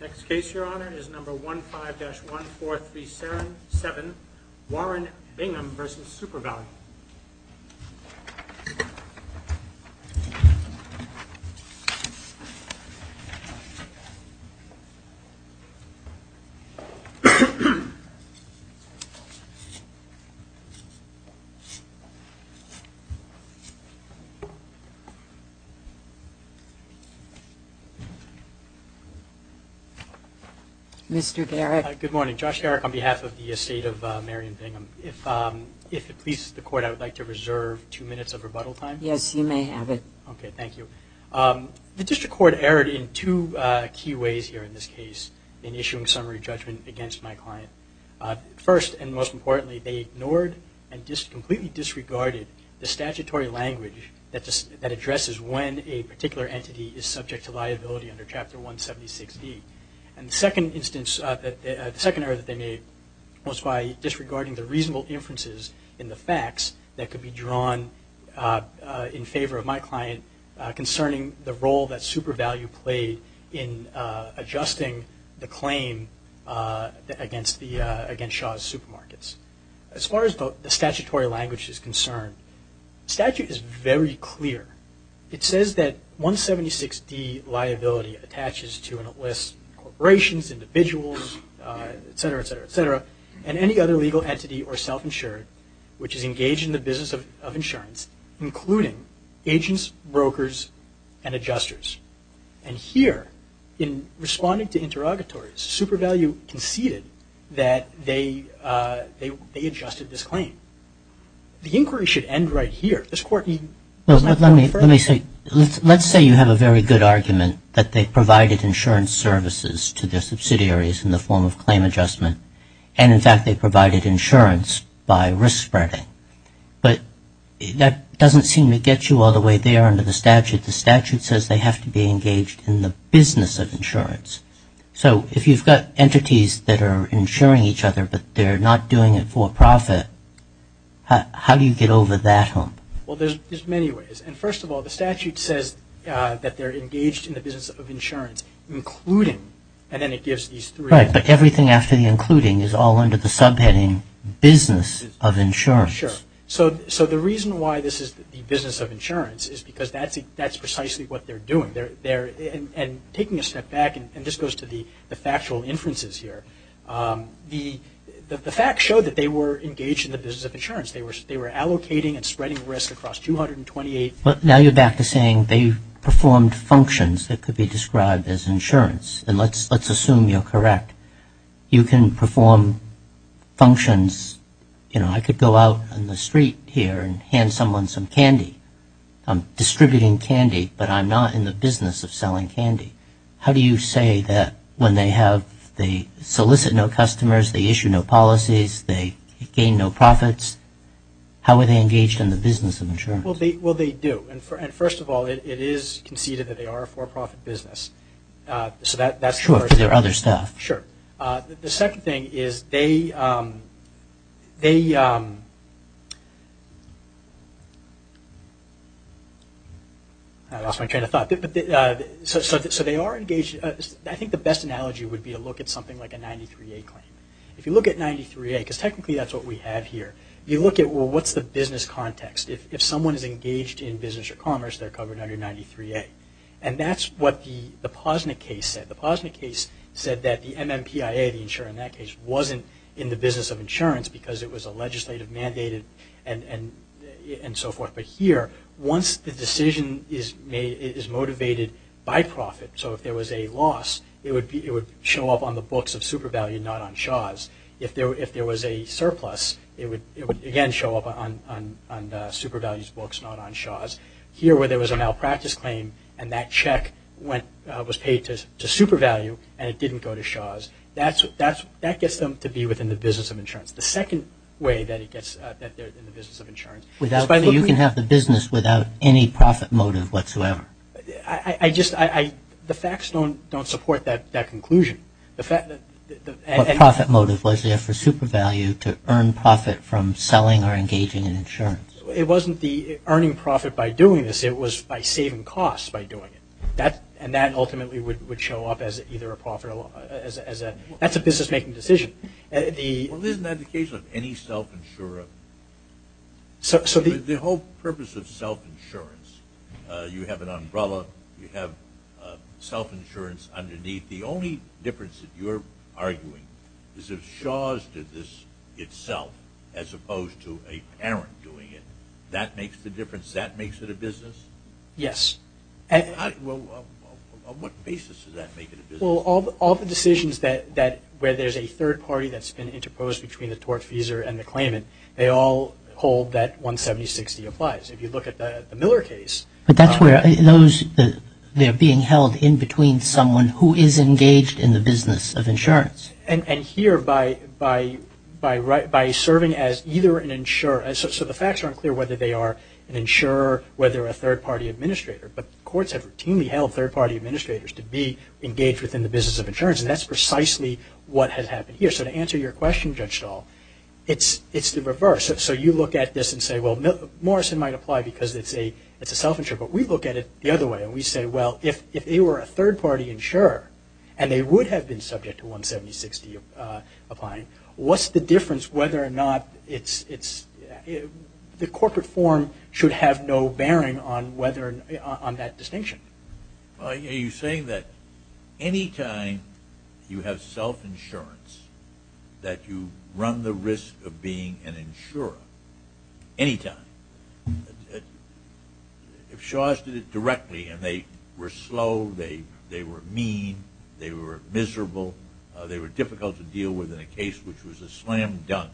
Next case, Your Honor, is number 15-14377, Warren Bingham v. Supervalu. Mr. Garrick. Good morning. Josh Garrick on behalf of the estate of Marion Bingham. If it pleases the Court, I would like to reserve two minutes of rebuttal time. Yes, you may have it. Okay, thank you. The District Court erred in two key ways here in this case in issuing summary judgment against my client. First, and most importantly, they ignored and completely disregarded the statutory language that addresses when a particular entity is subject to liability under Chapter 176D. And the second error that they made was by disregarding the reasonable inferences in the facts that could be drawn in favor of my client concerning the role that Supervalu played in adjusting the claim against Shaw's Supermarkets. As far as the statutory language is concerned, the statute is very clear. It says that 176D liability attaches to and lists corporations, individuals, et cetera, et cetera, et cetera, and any other legal entity or self-insured which is engaged in the business of insurance, including agents, brokers, and adjusters. And here, in responding to interrogatories, Supervalu conceded that they adjusted this claim. The inquiry should end right here. This Court need Well, let me say, let's say you have a very good argument that they provided insurance services to their subsidiaries in the form of claim adjustment. And, in fact, they provided insurance by risk spreading. But that doesn't seem to get you all the way there under the statute. The statute says they have to be engaged in the business of insurance. So if you've got entities that are insuring each other but they're not doing it for profit, how do you get over that hump? Well, there's many ways. And, first of all, the statute says that they're engaged in the business of insurance, including, and then it gives these three Right, but everything after the including is all under the subheading business of insurance. Sure. So the reason why this is the business of insurance is because that's precisely what they're doing. And taking a step back, and this goes to the factual inferences here, the facts show that they were engaged in the business of insurance. They were allocating and spreading risk across 228 Well, now you're back to saying they performed functions that could be described as insurance. And let's assume you're correct. You can perform functions, you know, I could go out on the street here and hand someone some candy. I'm distributing candy, but I'm not in the business of selling candy. How do you say that when they solicit no customers, they issue no policies, they gain no profits? How are they engaged in the business of insurance? Well, they do. And, first of all, it is conceded that they are a for-profit business. Sure, but there are other stuff. Sure. The second thing is they I lost my train of thought. So they are engaged. I think the best analogy would be to look at something like a 93A claim. If you look at 93A, because technically that's what we have here, you look at, well, what's the business context? If someone is engaged in business or commerce, they're covered under 93A. And that's what the Posnick case said. The Posnick case said that the MMPIA, the insurer in that case, wasn't in the business of insurance because it was a legislative mandated and so forth. But here, once the decision is motivated by profit, so if there was a loss, it would show up on the books of SuperValue, not on Shaw's. If there was a surplus, it would, again, show up on SuperValue's books, not on Shaw's. Here, where there was a malpractice claim and that check was paid to SuperValue and it didn't go to Shaw's, that gets them to be within the business of insurance. The second way that they're in the business of insurance is by looking at I just, the facts don't support that conclusion. What profit motive was there for SuperValue to earn profit from selling or engaging in insurance? It wasn't the earning profit by doing this, it was by saving costs by doing it. And that ultimately would show up as either a profit or loss. That's a business-making decision. Well, isn't that the case with any self-insurer? The whole purpose of self-insurance, you have an umbrella, you have self-insurance underneath. The only difference that you're arguing is if Shaw's did this itself as opposed to a parent doing it, that makes the difference, that makes it a business? Yes. Well, on what basis does that make it a business? Well, all the decisions where there's a third party that's been interposed between the tortfeasor and the claimant, they all hold that 170-60 applies. If you look at the Miller case... But that's where those, they're being held in between someone who is engaged in the business of insurance. And here, by serving as either an insurer, so the facts aren't clear whether they are an insurer, whether a third party administrator, but courts have routinely held third party administrators to be engaged within the business of insurance, and that's precisely what has been judged at all. It's the reverse. So you look at this and say, well, Morrison might apply because it's a self-insurer, but we look at it the other way, and we say, well, if they were a third party insurer, and they would have been subject to 170-60 applying, what's the difference whether or not it's, the corporate form should have no bearing on whether, on that distinction? Are you saying that anytime you have self-insurance, that you run the risk of being an insurer? Anytime? If Shaw's did it directly, and they were slow, they were mean, they were miserable, they were difficult to deal with in a case which was a slam dunk,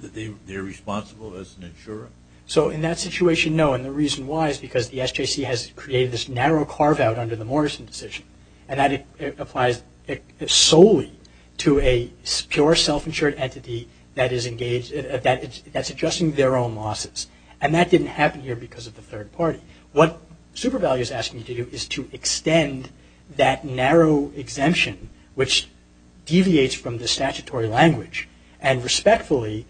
that they're responsible as an insurer? So in that situation, no, and the reason why is because the SJC has created this narrow carve-out under the Morrison decision, and that it applies solely to a pure self-insured entity that is engaged, that's adjusting their own losses, and that didn't happen here because of the third party. What SuperValue is asking you to do is to extend that narrow exemption which deviates from the statutory language, and respectfully,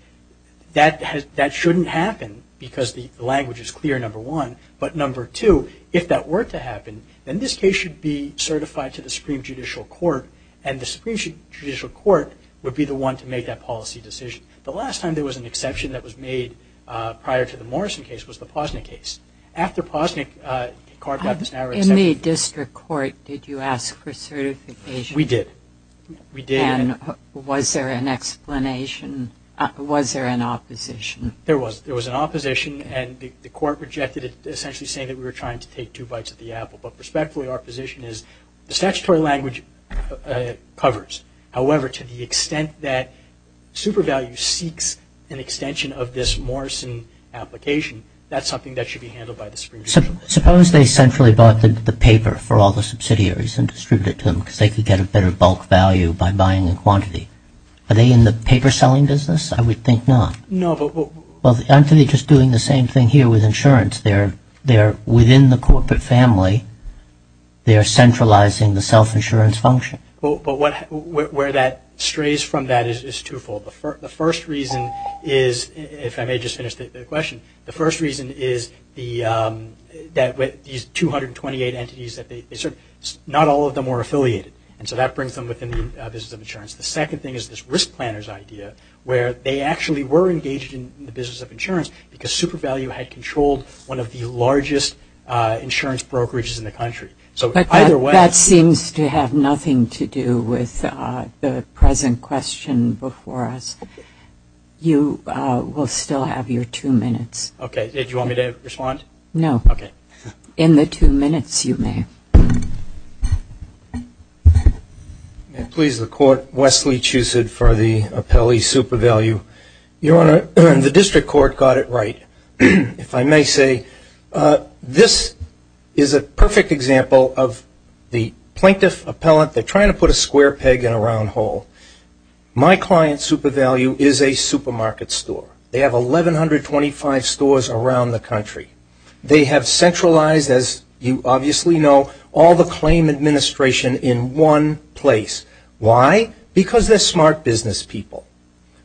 that shouldn't happen, because the language is clear, number one, but number two, if that were to happen, then this case should be certified to the Supreme Judicial Court, and the Supreme Judicial Court would be the one to make that policy decision. The last time there was an exception that was made prior to the Morrison case was the Posnick case. After Posnick carved out this narrow exemption... We did. We did. And was there an explanation? Was there an opposition? There was. There was an opposition, and the court rejected it, essentially saying that we were trying to take two bites of the apple, but respectfully, our position is the statutory language covers. However, to the extent that SuperValue seeks an extension of this Morrison application, that's something that should be handled by the Supreme Judicial Court. Suppose they centrally bought the paper for all the subsidiaries and distributed it to them so they could get a better bulk value by buying the quantity. Are they in the paper selling business? I would think not. No, but... Well, aren't they just doing the same thing here with insurance? They're within the corporate family. They're centralizing the self-insurance function. But where that strays from that is twofold. The first reason is, if I may just finish the question, the first reason is that these 228 entities that they serve, not all of them are affiliated, and so that brings them within the business of insurance. The second thing is this risk planners idea where they actually were engaged in the business of insurance because SuperValue had controlled one of the largest insurance brokerages in the country. But that seems to have nothing to do with the present question before us. You will still have your two minutes. Okay. Did you want me to respond? No. Okay. In the two minutes, you may. May it please the Court, Wesley Chusid for the appellee SuperValue. Your Honor, the district court got it right. If I may say, this is a perfect example of the plaintiff appellant. They're trying to put a square peg in a round hole. My client, SuperValue, is a supermarket store. They have 1,125 stores around the country. They have centralized, as you obviously know, all the claim administration in one place. Why? Because they're smart business people.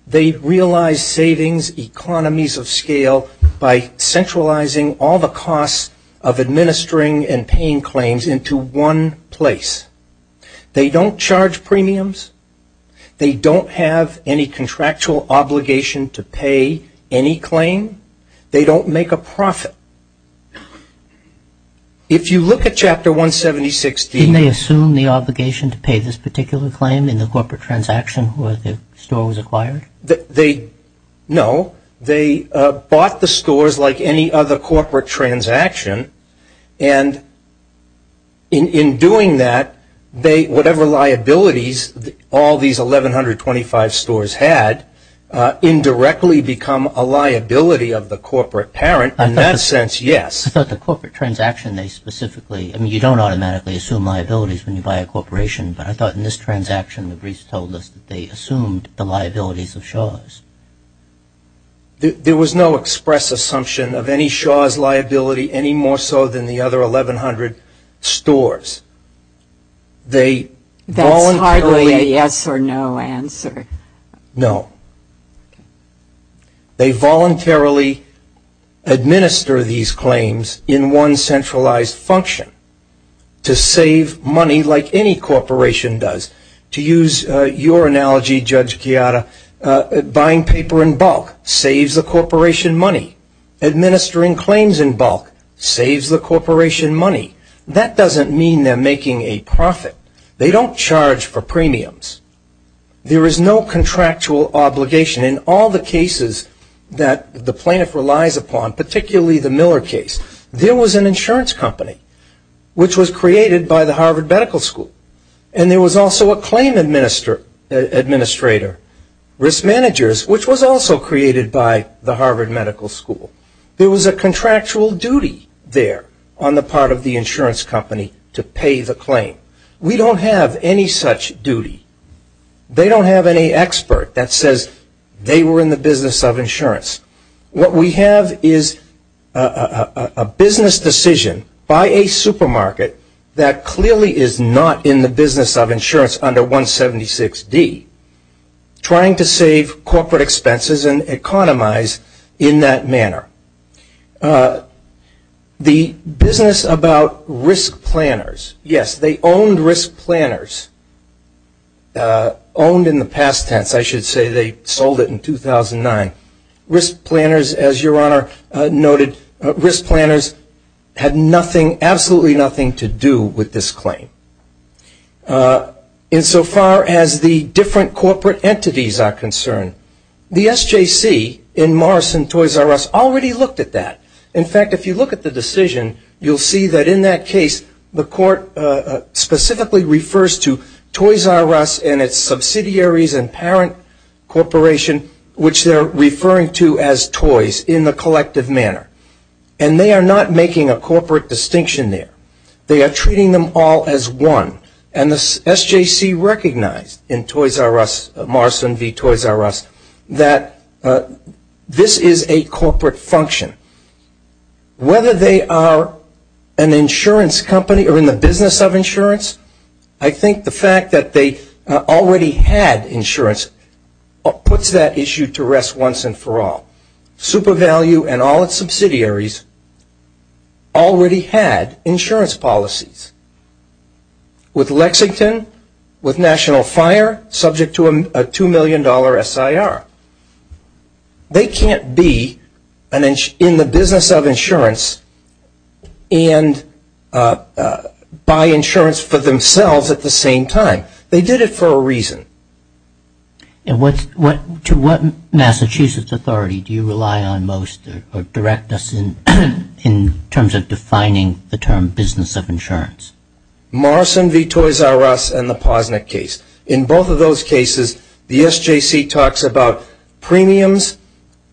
They realize savings, economies of scale by centralizing all the costs of administering and paying claims into one place. They don't charge premiums. They don't have any contractual obligation to pay any claim. They don't make a profit. If you look at Chapter 176- Didn't they assume the obligation to pay this particular claim in the corporate transaction where the store was acquired? No. They bought the stores like any other corporate transaction. And in doing that, they, whatever liabilities all these 1,125 stores had, indirectly become a liability of the corporate parent. In that sense, yes. I thought the corporate transaction, they specifically- I mean, you don't automatically assume liabilities when you buy a corporation. But I thought in this transaction, the briefs told us that they assumed the liabilities of Shaw's. There was no express assumption of any Shaw's liability any more so than the other 1,100 stores. They voluntarily- That's hardly a yes or no answer. No. They voluntarily administer these claims in one centralized function to save money like any buying paper in bulk saves the corporation money. Administering claims in bulk saves the corporation money. That doesn't mean they're making a profit. They don't charge for premiums. There is no contractual obligation in all the cases that the plaintiff relies upon, particularly the Miller case. There was an insurance company which was created by the Harvard Medical School. And there was also a claim administrator, risk managers, which was also created by the Harvard Medical School. There was a contractual duty there on the part of the insurance company to pay the claim. We don't have any such duty. They don't have any expert that says they were in the business of insurance. What we have is a business decision by a supermarket that clearly is not in the business of insurance under 176D, trying to save corporate expenses and economize in that manner. The business about risk planners. Yes, they owned risk planners. Owned in the past tense, I should say. They sold it in 2009. Risk planners, as Your Honor noted, risk planners had absolutely nothing to do with this claim. Insofar as the different corporate entities are concerned, the SJC in Morris and Toys R Us already looked at that. In fact, if you look at the decision, you'll see that in that case, the court specifically refers to Toys R Us and its subsidiaries and parent corporation, which they're referring to as toys in the collective manner. And they are not making a corporate distinction there. They are treating them all as one. And the SJC recognized in Toys R Us, Morris and V Toys R Us, that this is a corporate function. Whether they are an insurance company or in the business of insurance, I think the fact that they already had insurance puts that issue to rest once and for all. SuperValue and all its subsidiaries already had insurance policies with Lexington, with National Fire, subject to a $2 million SIR. They can't be in the business of insurance and buy insurance for themselves at the same time. They did it for a reason. And to what Massachusetts authority do you rely on most or direct us in terms of defining the term business of insurance? Morris and V Toys R Us and the Posnick case. In both of those cases, the SJC talks about premiums,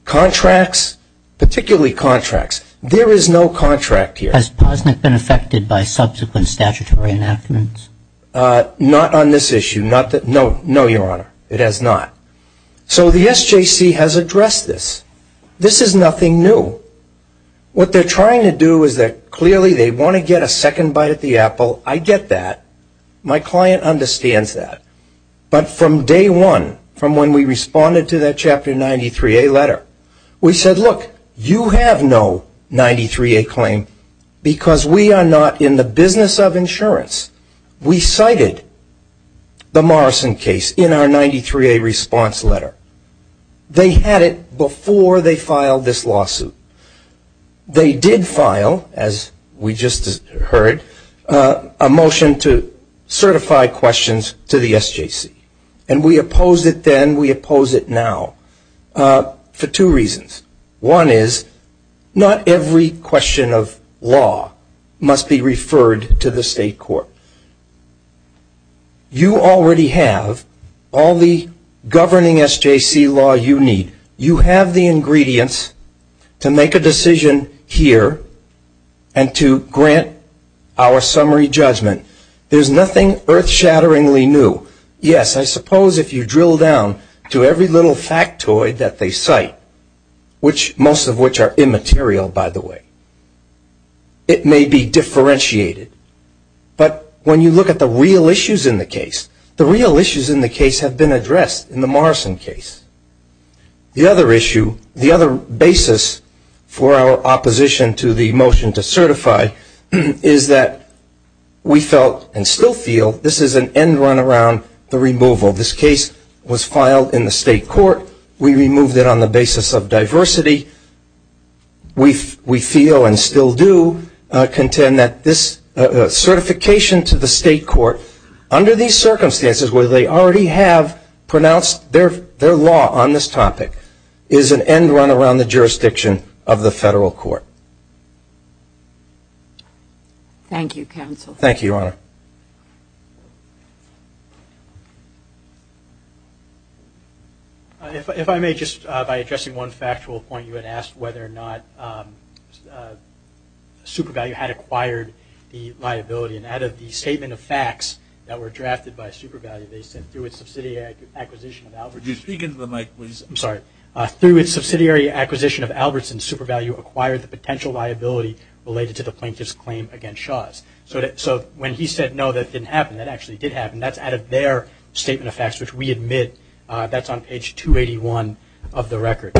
contracts, particularly contracts. There is no contract here. Has Posnick been affected by subsequent statutory enactments? Not on this issue. No, Your Honor. It has not. So the SJC has addressed this. This is nothing new. What they are trying to do is that clearly they want to get a second bite at the apple. I get that. My client understands that. But from day one, from when we responded to that Chapter 93A letter, we said, look, you have no 93A claim because we are not in the business of insurance. We cited the Morrison case in our 93A response letter. They had it before they filed this lawsuit. They did file, as we just heard, a motion to certify questions to the SJC. And we opposed it then. We oppose it now for two reasons. One is not every question of law must be referred to the state court. You already have all the governing SJC law you need. You have the ingredients to make a decision here and to grant our summary judgment. There is nothing earth shatteringly new. Yes, I suppose if you drill down to every little factoid that they cite, most of which are immaterial, by the way, it may be differentiated. But when you look at the real issues in the case, the real issues in the case have been addressed in the Morrison case. The other issue, the other basis for our opposition to the motion to certify, is that we felt and still feel this is an end run around the removal. This case was filed in the state court. We removed it on the basis of diversity. We feel and still do contend that this certification to the state court, under these circumstances where they already have pronounced their law on this topic, is an end run around the jurisdiction of the federal court. Thank you, counsel. Thank you, Your Honor. If I may, just by addressing one factual point, you had asked whether or not SuperValue had acquired the liability. And out of the statement of facts that were drafted by SuperValue, they said, through its subsidiary acquisition of Albertson SuperValue, acquired the potential liability related to the plaintiff's claim against Shaw's. So when he said, no, that didn't happen, that actually did happen, that's out of their statement of facts, which we admit that's on page 281 of the record.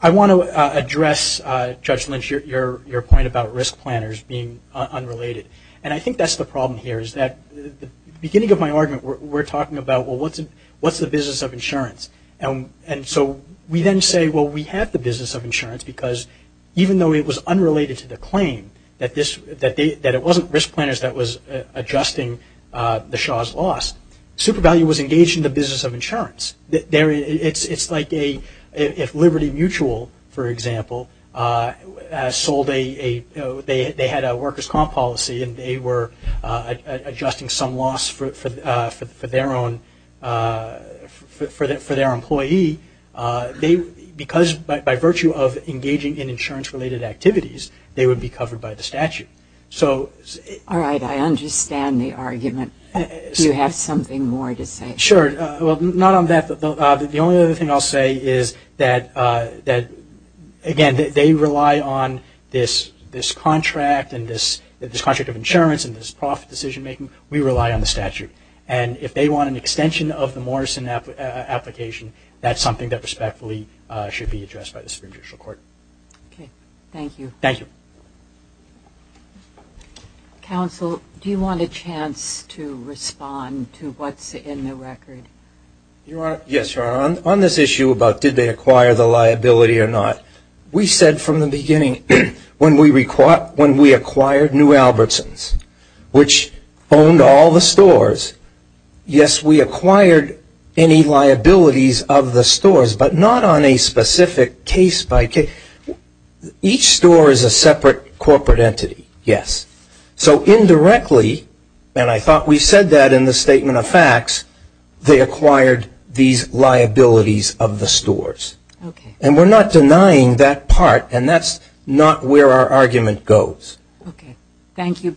I want to address, Judge Lynch, your point about risk planners being unrelated. And I think that's the problem here, is that the beginning of my argument, we're talking about, well, what's the business of insurance? And so we then say, well, we have the business of insurance, because even though it was unrelated to the claim, that it wasn't risk planners that was adjusting the Shaw's loss, SuperValue was engaged in the business of insurance. It's like if Liberty Mutual, for example, sold a, they had a workers' comp policy and they were adjusting some loss for their own, for their employee, because by virtue of engaging in insurance-related activities, they would be covered by the statute. All right, I understand the argument. Do you have something more to say? Sure. Well, not on that, the only other thing I'll say is that, again, they rely on this contract and this contract of insurance and this profit decision-making. We rely on the statute. And if they want an extension of the Morrison application, that's something that respectfully should be addressed by the Supreme Judicial Court. Okay, thank you. Thank you. Counsel, do you want a chance to respond to what's in the record? Your Honor, yes, Your Honor. On this issue about did they acquire the liability or not, we said from the beginning, when we acquired New Albertsons, which owned all the stores, yes, we acquired any liabilities of the stores, but not on a specific case by case. Each store is a separate corporate entity, yes. So indirectly, and I thought we said that in the statement of facts, they acquired these liabilities of the stores. Okay. And we're not denying that part, and that's not where our argument goes. Okay. Thank you, Your Honor.